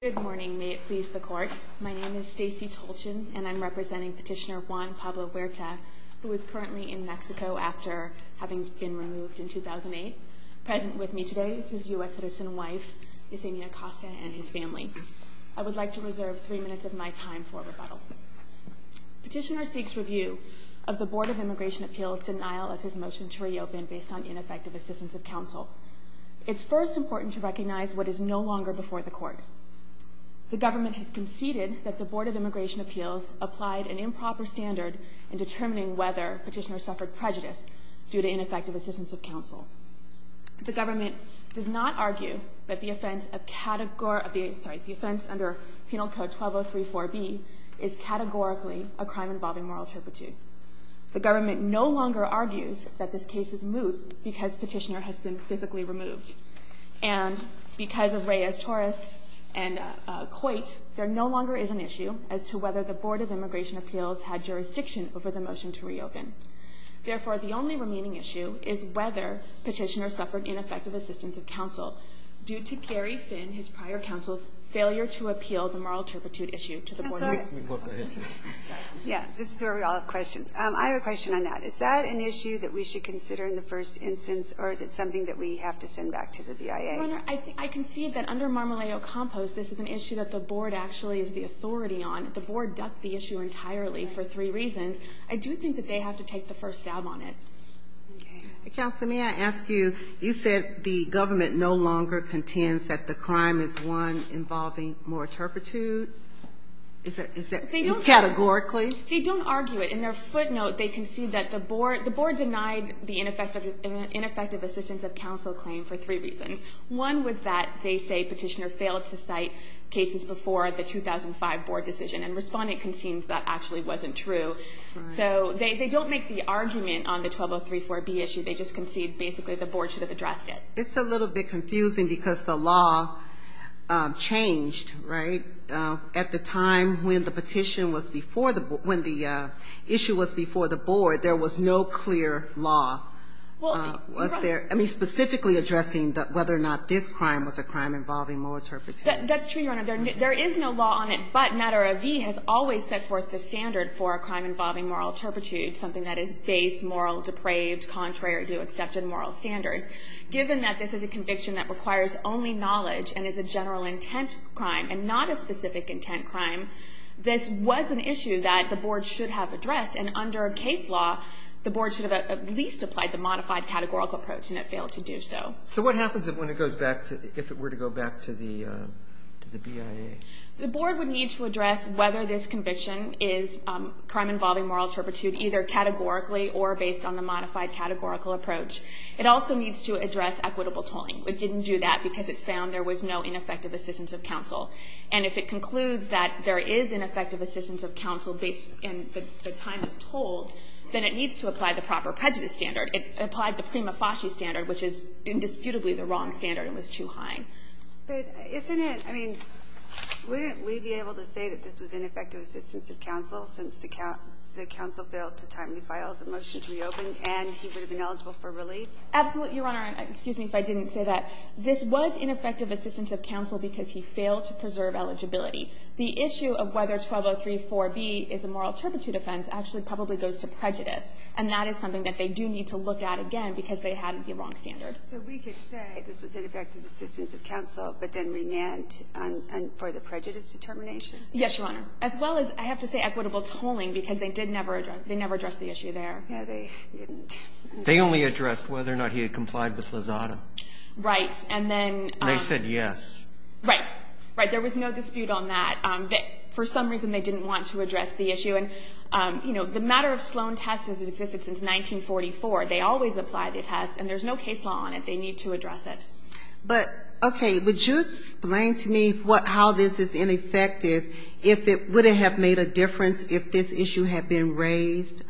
Good morning, may it please the Court. My name is Stacey Tolchin and I'm representing Petitioner Juan Pablo Huerta, who is currently in Mexico after having been removed in 2008. Present with me today is his U.S. citizen wife, Yesenia Acosta, and his family. I would like to reserve three minutes of my time for rebuttal. Petitioner seeks review of the Board of Immigration Appeals' denial of his motion to reopen based on ineffective assistance of counsel. It's first important to recognize what is no longer before the Court. The government has conceded that the Board of Immigration Appeals applied an improper standard in determining whether Petitioner suffered prejudice due to ineffective assistance of counsel. The government does not argue that the offense under Penal Code 12034B is categorically a crime involving moral turpitude. The government no longer argues that this case is moot because Petitioner has been physically removed. And because of Reyes-Torres and Coit, there no longer is an issue as to whether the Board of Immigration Appeals had jurisdiction over the motion to reopen. Therefore, the only remaining issue is whether Petitioner suffered ineffective assistance of counsel due to Gary Finn, his prior counsel's, in order to appeal the moral turpitude issue to the Board of Immigration Appeals. Yeah, this is where we all have questions. I have a question on that. Is that an issue that we should consider in the first instance, or is it something that we have to send back to the BIA? Your Honor, I concede that under Marmoleo Compost, this is an issue that the Board actually is the authority on. The Board ducked the issue entirely for three reasons. I do think that they have to take the first stab on it. Counsel, may I ask you, you said the government no longer contends that the crime is one involving moral turpitude. Is that categorically? They don't argue it. In their footnote, they concede that the Board denied the ineffective assistance of counsel claim for three reasons. One was that they say Petitioner failed to cite cases before the 2005 Board decision, and Respondent concedes that actually wasn't true. So they don't make the argument on the 12034B issue. They just concede basically the Board should have addressed it. It's a little bit confusing because the law changed, right? At the time when the petition was before the Board, when the issue was before the Board, there was no clear law. Was there? I mean, specifically addressing whether or not this crime was a crime involving moral turpitude. That's true, Your Honor. There is no law on it, but NARAV has always set forth the standard for a crime involving moral turpitude, something that is base, moral, depraved, contrary to accepted moral standards. Given that this is a conviction that requires only knowledge and is a general intent crime and not a specific intent crime, this was an issue that the Board should have addressed. And under case law, the Board should have at least applied the modified categorical approach, and it failed to do so. So what happens when it goes back to, if it were to go back to the BIA? The Board would need to address whether this conviction is a crime involving moral turpitude, either categorically or based on the modified categorical approach. It also needs to address equitable tolling. It didn't do that because it found there was no ineffective assistance of counsel. And if it concludes that there is ineffective assistance of counsel based, and the time is told, then it needs to apply the proper prejudice standard. It applied the prima facie standard, which is indisputably the wrong standard and was too high. But isn't it, I mean, wouldn't we be able to say that this was ineffective assistance of counsel since the counsel failed to timely file the motion to reopen and he would have been eligible for relief? Absolutely, Your Honor. Excuse me if I didn't say that. This was ineffective assistance of counsel because he failed to preserve eligibility. The issue of whether 12034B is a moral turpitude offense actually probably goes to prejudice, and that is something that they do need to look at again because they had the wrong standard. So we could say this was ineffective assistance of counsel, but then remand for the prejudice determination? Yes, Your Honor. As well as, I have to say, equitable tolling because they did never address the issue there. Yeah, they didn't. They only addressed whether or not he had complied with Lozada. Right. And then they said yes. Right. Right. There was no dispute on that. For some reason, they didn't want to address the issue. And, you know, the matter of Sloan test has existed since 1944. They always apply the test, and there's no case law on it. They need to address it. But, okay, would you explain to me how this is ineffective? Would it have made a difference if this issue had been raised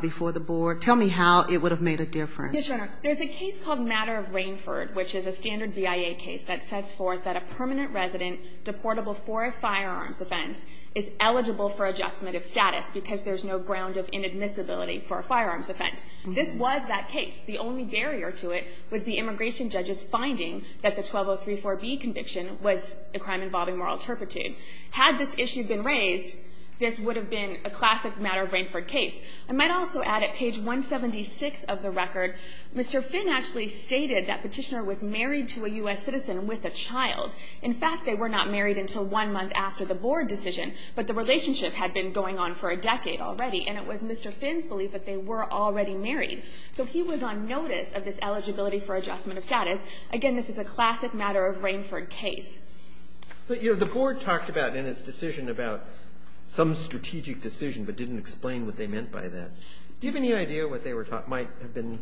before the board? Tell me how it would have made a difference. Yes, Your Honor. There's a case called Matter of Rainford, which is a standard BIA case that sets forth that a permanent resident deportable for a firearms offense is eligible for adjustment of status because there's no ground of inadmissibility for a firearms offense. This was that case. The only barrier to it was the immigration judge's finding that the 12034B conviction was a crime involving moral turpitude. Had this issue been raised, this would have been a classic Matter of Rainford case. I might also add at page 176 of the record, Mr. Finn actually stated that Petitioner was married to a U.S. citizen with a child. In fact, they were not married until one month after the board decision, but the relationship had been going on for a decade already, and it was Mr. Finn's belief that they were already married. So he was on notice of this eligibility for adjustment of status. Again, this is a classic Matter of Rainford case. But, you know, the board talked about in its decision about some strategic decision but didn't explain what they meant by that. Do you have any idea what they might have been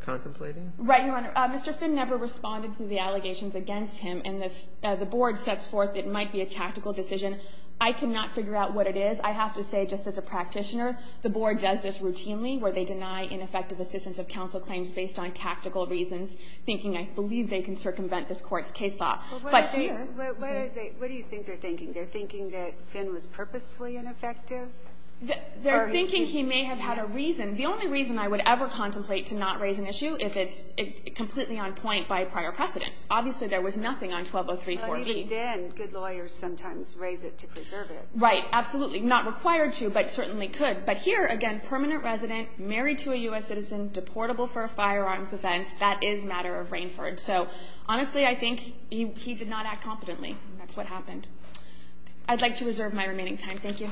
contemplating? Right, Your Honor. Mr. Finn never responded to the allegations against him, and if the board sets forth it might be a tactical decision. I cannot figure out what it is. I have to say, just as a practitioner, the board does this routinely where they deny ineffective assistance of counsel claims based on tactical reasons, thinking I believe they can circumvent this Court's case law. But what do you think they're thinking? They're thinking that Finn was purposely ineffective? They're thinking he may have had a reason. The only reason I would ever contemplate to not raise an issue if it's completely on point by prior precedent. Obviously, there was nothing on 12034-E. Even then, good lawyers sometimes raise it to preserve it. Right, absolutely. Not required to, but certainly could. But here, again, permanent resident, married to a U.S. citizen, deportable for a firearms offense, that is Matter of Rainford. So, honestly, I think he did not act competently. That's what happened. I'd like to reserve my remaining time. MS. KANTOR.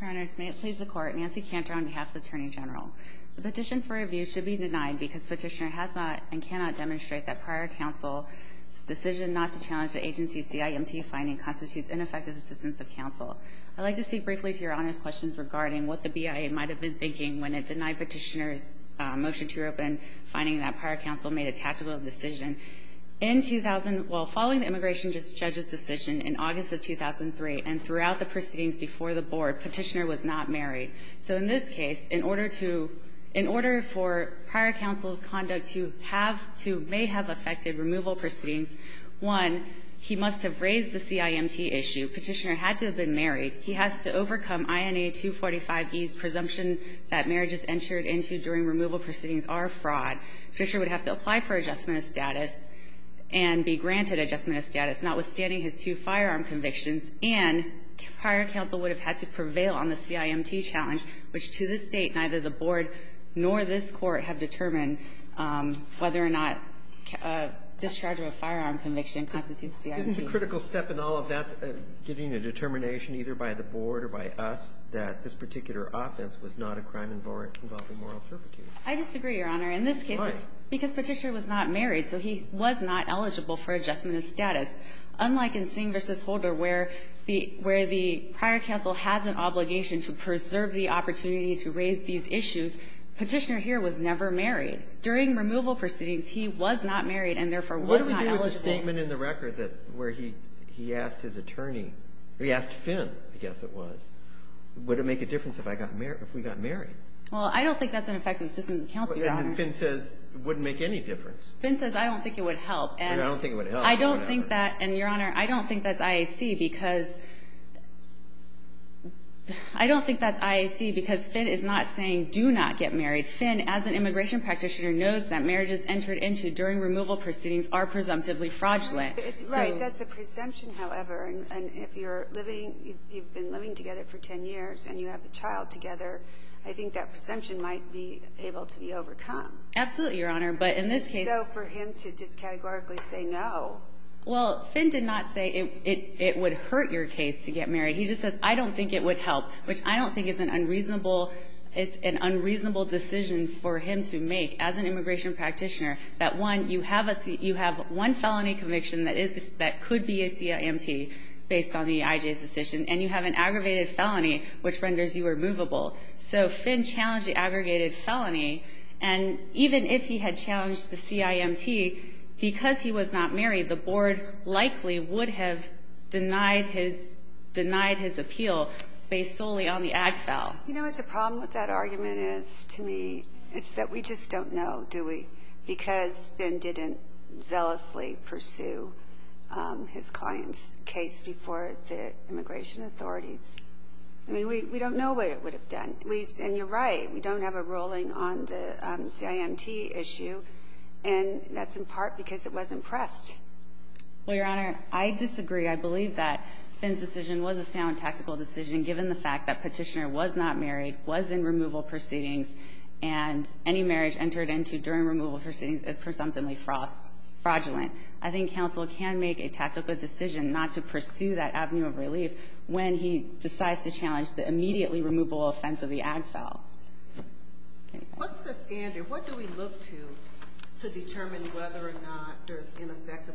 Your Honors, may it please the Court. Nancy Kantor on behalf of the Attorney General. The petition for review should be denied because Petitioner has not and cannot demonstrate that prior counsel's decision not to challenge the agency's CIMT finding constitutes ineffective assistance of counsel. I'd like to speak briefly to Your Honors' questions regarding what the BIA might have been thinking when it denied Petitioner's motion to reopen, finding that prior counsel made a tactical decision. In 2000 — well, following the immigration judge's decision in August of 2003 and throughout the proceedings before the Board, Petitioner was not married. So in this case, in order to — in order for prior counsel's conduct to have to — may have affected removal proceedings, one, he must have raised the CIMT issue. Petitioner had to have been married. He has to overcome INA 245e's presumption that marriages entered into during removal proceedings are a fraud. Petitioner would have to apply for adjustment of status and be granted adjustment of status, notwithstanding his two firearm convictions. And prior counsel would have had to prevail on the CIMT challenge, which to this date, neither the Board nor this Court have determined whether or not discharge of a firearm conviction constitutes CIMT. It's a critical step in all of that, getting a determination either by the Board or by us that this particular offense was not a crime involving moral turpitude. I disagree, Your Honor. Why? In this case, because Petitioner was not married, so he was not eligible for adjustment of status. Unlike in Singh v. Holder, where the — where the prior counsel has an obligation to preserve the opportunity to raise these issues, Petitioner here was never married. During removal proceedings, he was not married and, therefore, was not eligible. What do we do with the statement in the record that — where he — he asked his attorney — he asked Finn, I guess it was, would it make a difference if I got married — if we got married? Well, I don't think that's an effective system of counsel, Your Honor. And then Finn says it wouldn't make any difference. Finn says, I don't think it would help. I don't think it would help. I don't think that — and, Your Honor, I don't think that's IAC because — I don't think that's IAC because Finn is not saying do not get married. Finn, as an immigration practitioner, knows that marriages entered into during removal proceedings are presumptively fraudulent. Right. That's a presumption, however. And if you're living — you've been living together for 10 years and you have a child together, I think that presumption might be able to be overcome. Absolutely, Your Honor. But in this case — So for him to just categorically say no. Well, Finn did not say it would hurt your case to get married. He just says, I don't think it would help, which I don't think is an unreasonable — it's an unreasonable decision for him to make as an immigration practitioner that, one, you have a — you have one felony conviction that is — that could be a CIMT based on the IJ's decision, and you have an aggravated felony which renders you removable. So Finn challenged the aggregated felony. And even if he had challenged the CIMT, because he was not married, the board likely would have denied his — denied his appeal based solely on the ag file. You know what the problem with that argument is to me? It's that we just don't know, do we? Because Finn didn't zealously pursue his client's case before the immigration authorities. I mean, we don't know what it would have done. And you're right. We don't have a ruling on the CIMT issue, and that's in part because it wasn't pressed. Well, Your Honor, I disagree. I believe that Finn's decision was a sound tactical decision given the fact that he was not married, was in removal proceedings, and any marriage entered into during removal proceedings is presumptively fraudulent. I think counsel can make a tactical decision not to pursue that avenue of relief when he decides to challenge the immediately removable offense of the ag file. What's the standard? What do we look to to determine whether or not there's an effective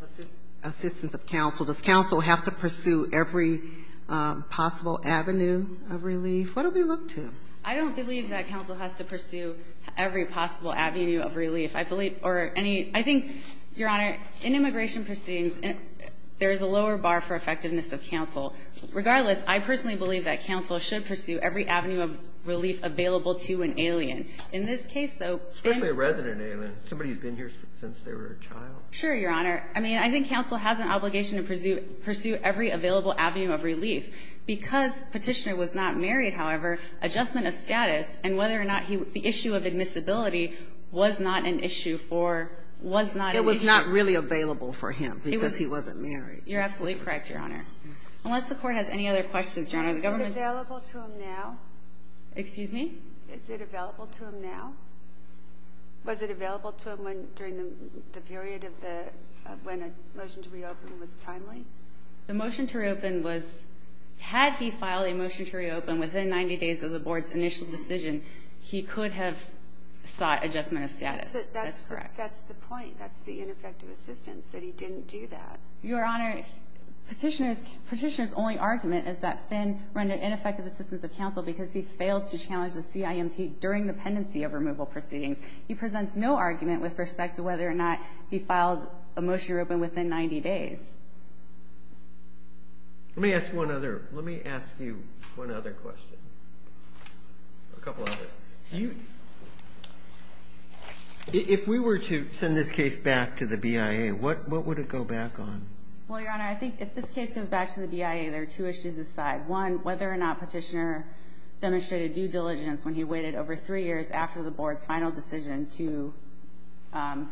assistance Does counsel have to pursue every possible avenue of relief? What do we look to? I don't believe that counsel has to pursue every possible avenue of relief. I believe or any – I think, Your Honor, in immigration proceedings, there is a lower bar for effectiveness of counsel. Regardless, I personally believe that counsel should pursue every avenue of relief available to an alien. In this case, though, Finn – Especially a resident alien. Somebody who's been here since they were a child. Sure, Your Honor. I mean, I think counsel has an obligation to pursue every available avenue of relief. Because Petitioner was not married, however, adjustment of status and whether or not he – the issue of admissibility was not an issue for – was not an issue It was not really available for him because he wasn't married. You're absolutely correct, Your Honor. Unless the Court has any other questions, Your Honor, the government Is it available to him now? Excuse me? Is it available to him now? Was it available to him when – during the period of the – when a motion to reopen was timely? The motion to reopen was – had he filed a motion to reopen within 90 days of the Board's initial decision, he could have sought adjustment of status. That's correct. That's the point. That's the ineffective assistance, that he didn't do that. Your Honor, Petitioner's – Petitioner's only argument is that Finn rendered ineffective assistance of counsel because he failed to challenge the CIMT during the pendency of removal proceedings. He presents no argument with respect to whether or not he filed a motion to reopen within 90 days. Let me ask one other – let me ask you one other question. A couple other. You – if we were to send this case back to the BIA, what – what would it go back on? Well, Your Honor, I think if this case goes back to the BIA, there are two issues aside. One, whether or not Petitioner demonstrated due diligence when he waited over three years after the Board's final decision to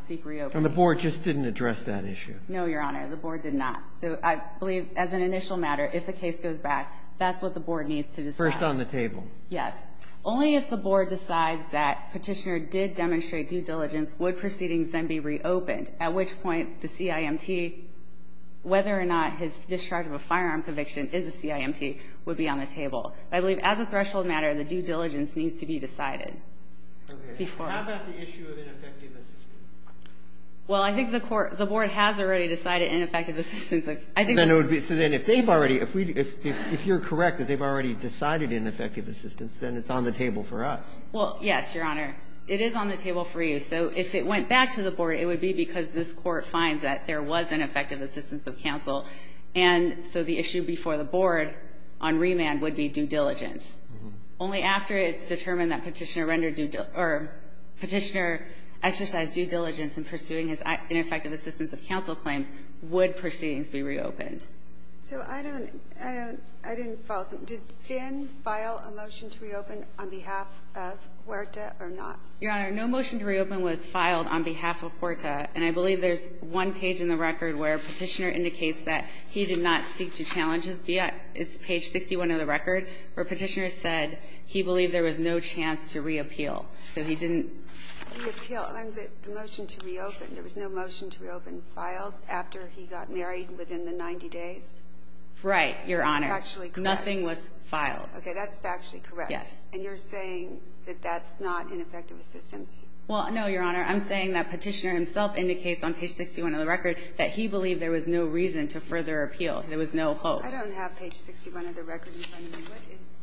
seek reopening. And the Board just didn't address that issue? No, Your Honor. The Board did not. So I believe as an initial matter, if the case goes back, that's what the Board needs to decide. First on the table. Yes. Only if the Board decides that Petitioner did demonstrate due diligence would proceedings then be reopened, at which point the CIMT, whether or not his discharge of a firearm conviction is a CIMT, would be on the table. But I believe as a threshold matter, the due diligence needs to be decided. Okay. How about the issue of ineffective assistance? Well, I think the Court – the Board has already decided ineffective assistance. I think that would be – Then it would be – so then if they've already – if we – if you're correct that they've already decided ineffective assistance, then it's on the table for us. Well, yes, Your Honor. It is on the table for you. So if it went back to the Board, it would be because this Court finds that there was ineffective assistance of counsel. And so the issue before the Board on remand would be due diligence. Only after it's determined that Petitioner rendered due – or Petitioner exercised due diligence in pursuing his ineffective assistance of counsel claims would proceedings be reopened. So I don't – I don't – I didn't follow. Did Finn file a motion to reopen on behalf of Huerta or not? Your Honor, no motion to reopen was filed on behalf of Huerta. And I believe there's one page in the record where Petitioner indicates that he did not seek to challenge his view. It's page 61 of the record where Petitioner said he believed there was no chance to reappeal. So he didn't reappeal. Well, the motion to reopen, there was no motion to reopen filed after he got married within the 90 days? Right, Your Honor. That's factually correct. Nothing was filed. Okay. That's factually correct. Yes. And you're saying that that's not ineffective assistance? Well, no, Your Honor. I'm saying that Petitioner himself indicates on page 61 of the record that he believed there was no reason to further appeal. There was no hope. I don't have page 61 of the record in front of me.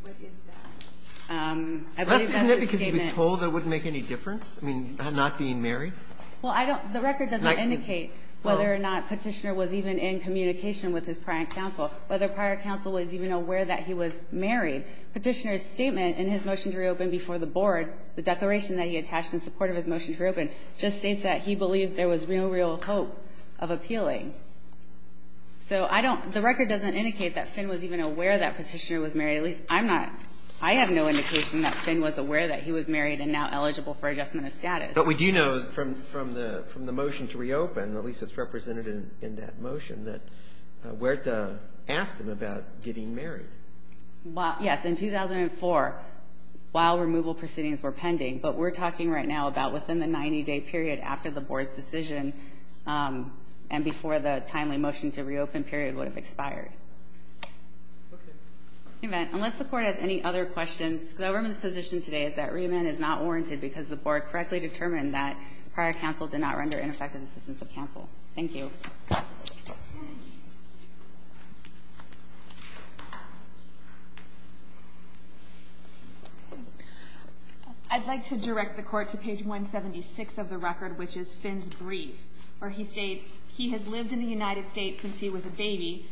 What is that? Isn't it because he was told it wouldn't make any difference? I mean, not being married? Well, I don't the record doesn't indicate whether or not Petitioner was even in communication with his prior counsel, whether prior counsel was even aware that he was married. Petitioner's statement in his motion to reopen before the board, the declaration that he attached in support of his motion to reopen, just states that he believed there was real, real hope of appealing. So I don't the record doesn't indicate that Finn was even aware that Petitioner was married, at least I'm not. I have no indication that Finn was aware that he was married and now eligible for adjustment of status. But we do know from the motion to reopen, at least it's represented in that motion, that Huerta asked him about getting married. Well, yes. In 2004, while removal proceedings were pending, but we're talking right now about within the 90-day period after the board's decision and before the timely motion to reopen period would have expired. Okay. Unless the Court has any other questions, the government's position today is that reamend is not warranted because the board correctly determined that prior counsel did not render ineffective assistance to counsel. Thank you. I'd like to direct the Court to page 176 of the record, which is Finn's brief, where he states, He has lived in the United States since he was a baby.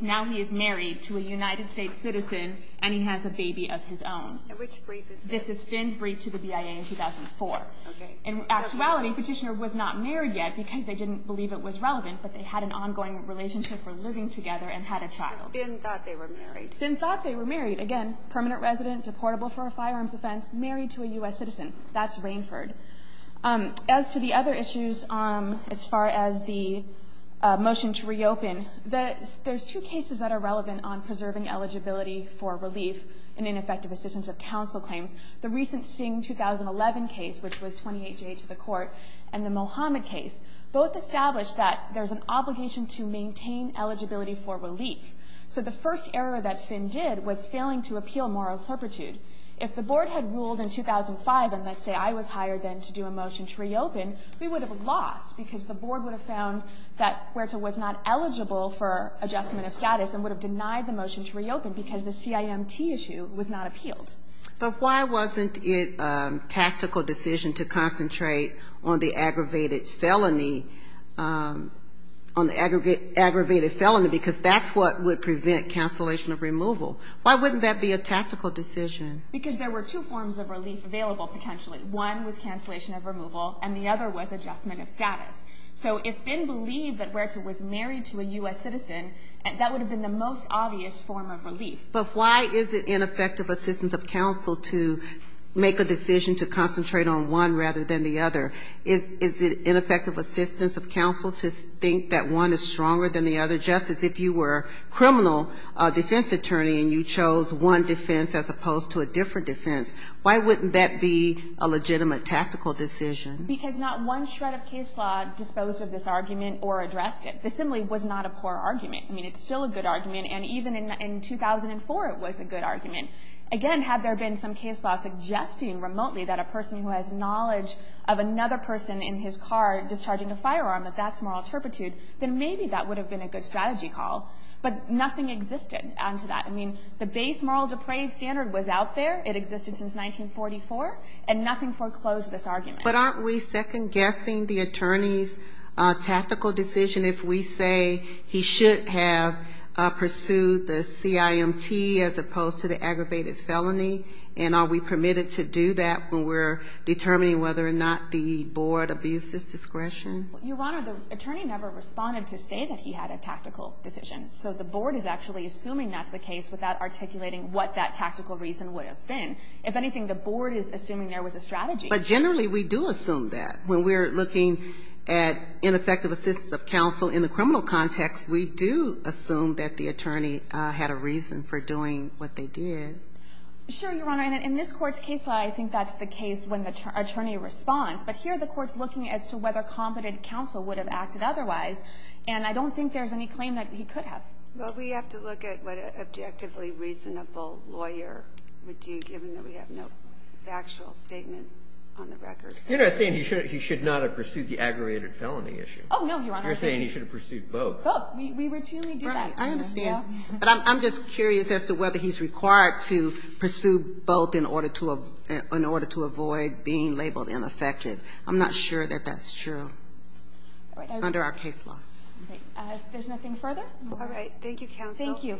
Now he is married to a United States citizen, and he has a baby of his own. Which brief is this? This is Finn's brief to the BIA in 2004. Okay. In actuality, Petitioner was not married yet because they didn't believe it was relevant, but they had an ongoing relationship for living together and had a child. So Finn thought they were married. Finn thought they were married. Again, permanent resident, deportable for a firearms offense, married to a U.S. citizen. That's Rainford. As to the other issues, as far as the motion to reopen, there's two cases that are relevant on preserving eligibility for relief and ineffective assistance of counsel claims. The recent Singh 2011 case, which was 28-J to the Court, and the Mohammed case, both established that there's an obligation to maintain eligibility for relief. So the first error that Finn did was failing to appeal moral serpitude. If the Board had ruled in 2005 and, let's say, I was hired then to do a motion to reopen, we would have lost, because the Board would have found that Huerta was not eligible for adjustment of status and would have denied the motion to reopen because the CIMT issue was not appealed. But why wasn't it a tactical decision to concentrate on the aggravated felony – on the aggravated felony, because that's what would prevent cancellation of removal? Why wouldn't that be a tactical decision? Because there were two forms of relief available, potentially. One was cancellation of removal, and the other was adjustment of status. So if Finn believed that Huerta was married to a U.S. citizen, that would have been the most obvious form of relief. But why is it ineffective assistance of counsel to make a decision to concentrate on one rather than the other? Is it ineffective assistance of counsel to think that one is stronger than the other? If you were a criminal defense attorney and you chose one defense as opposed to a different defense, why wouldn't that be a legitimate tactical decision? Because not one shred of case law disposed of this argument or addressed it. This simply was not a poor argument. I mean, it's still a good argument, and even in 2004 it was a good argument. Again, had there been some case law suggesting remotely that a person who has knowledge of another person in his car discharging a firearm, if that's moral turpitude, then maybe that would have been a good strategy call. But nothing existed onto that. I mean, the base moral depraved standard was out there. It existed since 1944. And nothing foreclosed this argument. But aren't we second-guessing the attorney's tactical decision if we say he should have pursued the CIMT as opposed to the aggravated felony? And are we permitted to do that when we're determining whether or not the board abused his discretion? Your Honor, the attorney never responded to say that he had a tactical decision. So the board is actually assuming that's the case without articulating what that tactical reason would have been. If anything, the board is assuming there was a strategy. But generally we do assume that. When we're looking at ineffective assistance of counsel in the criminal context, we do assume that the attorney had a reason for doing what they did. Sure, Your Honor. And in this Court's case law, I think that's the case when the attorney responds. But here the Court's looking as to whether competent counsel would have acted otherwise. And I don't think there's any claim that he could have. Well, we have to look at what an objectively reasonable lawyer would do, given that we have no factual statement on the record. You're not saying he should not have pursued the aggravated felony issue. Oh, no, Your Honor. You're saying he should have pursued both. Both. We routinely do that. I understand. But I'm just curious as to whether he's required to pursue both in order to avoid being labeled ineffective. I'm not sure that that's true under our case law. All right. If there's nothing further? All right. Thank you, counsel.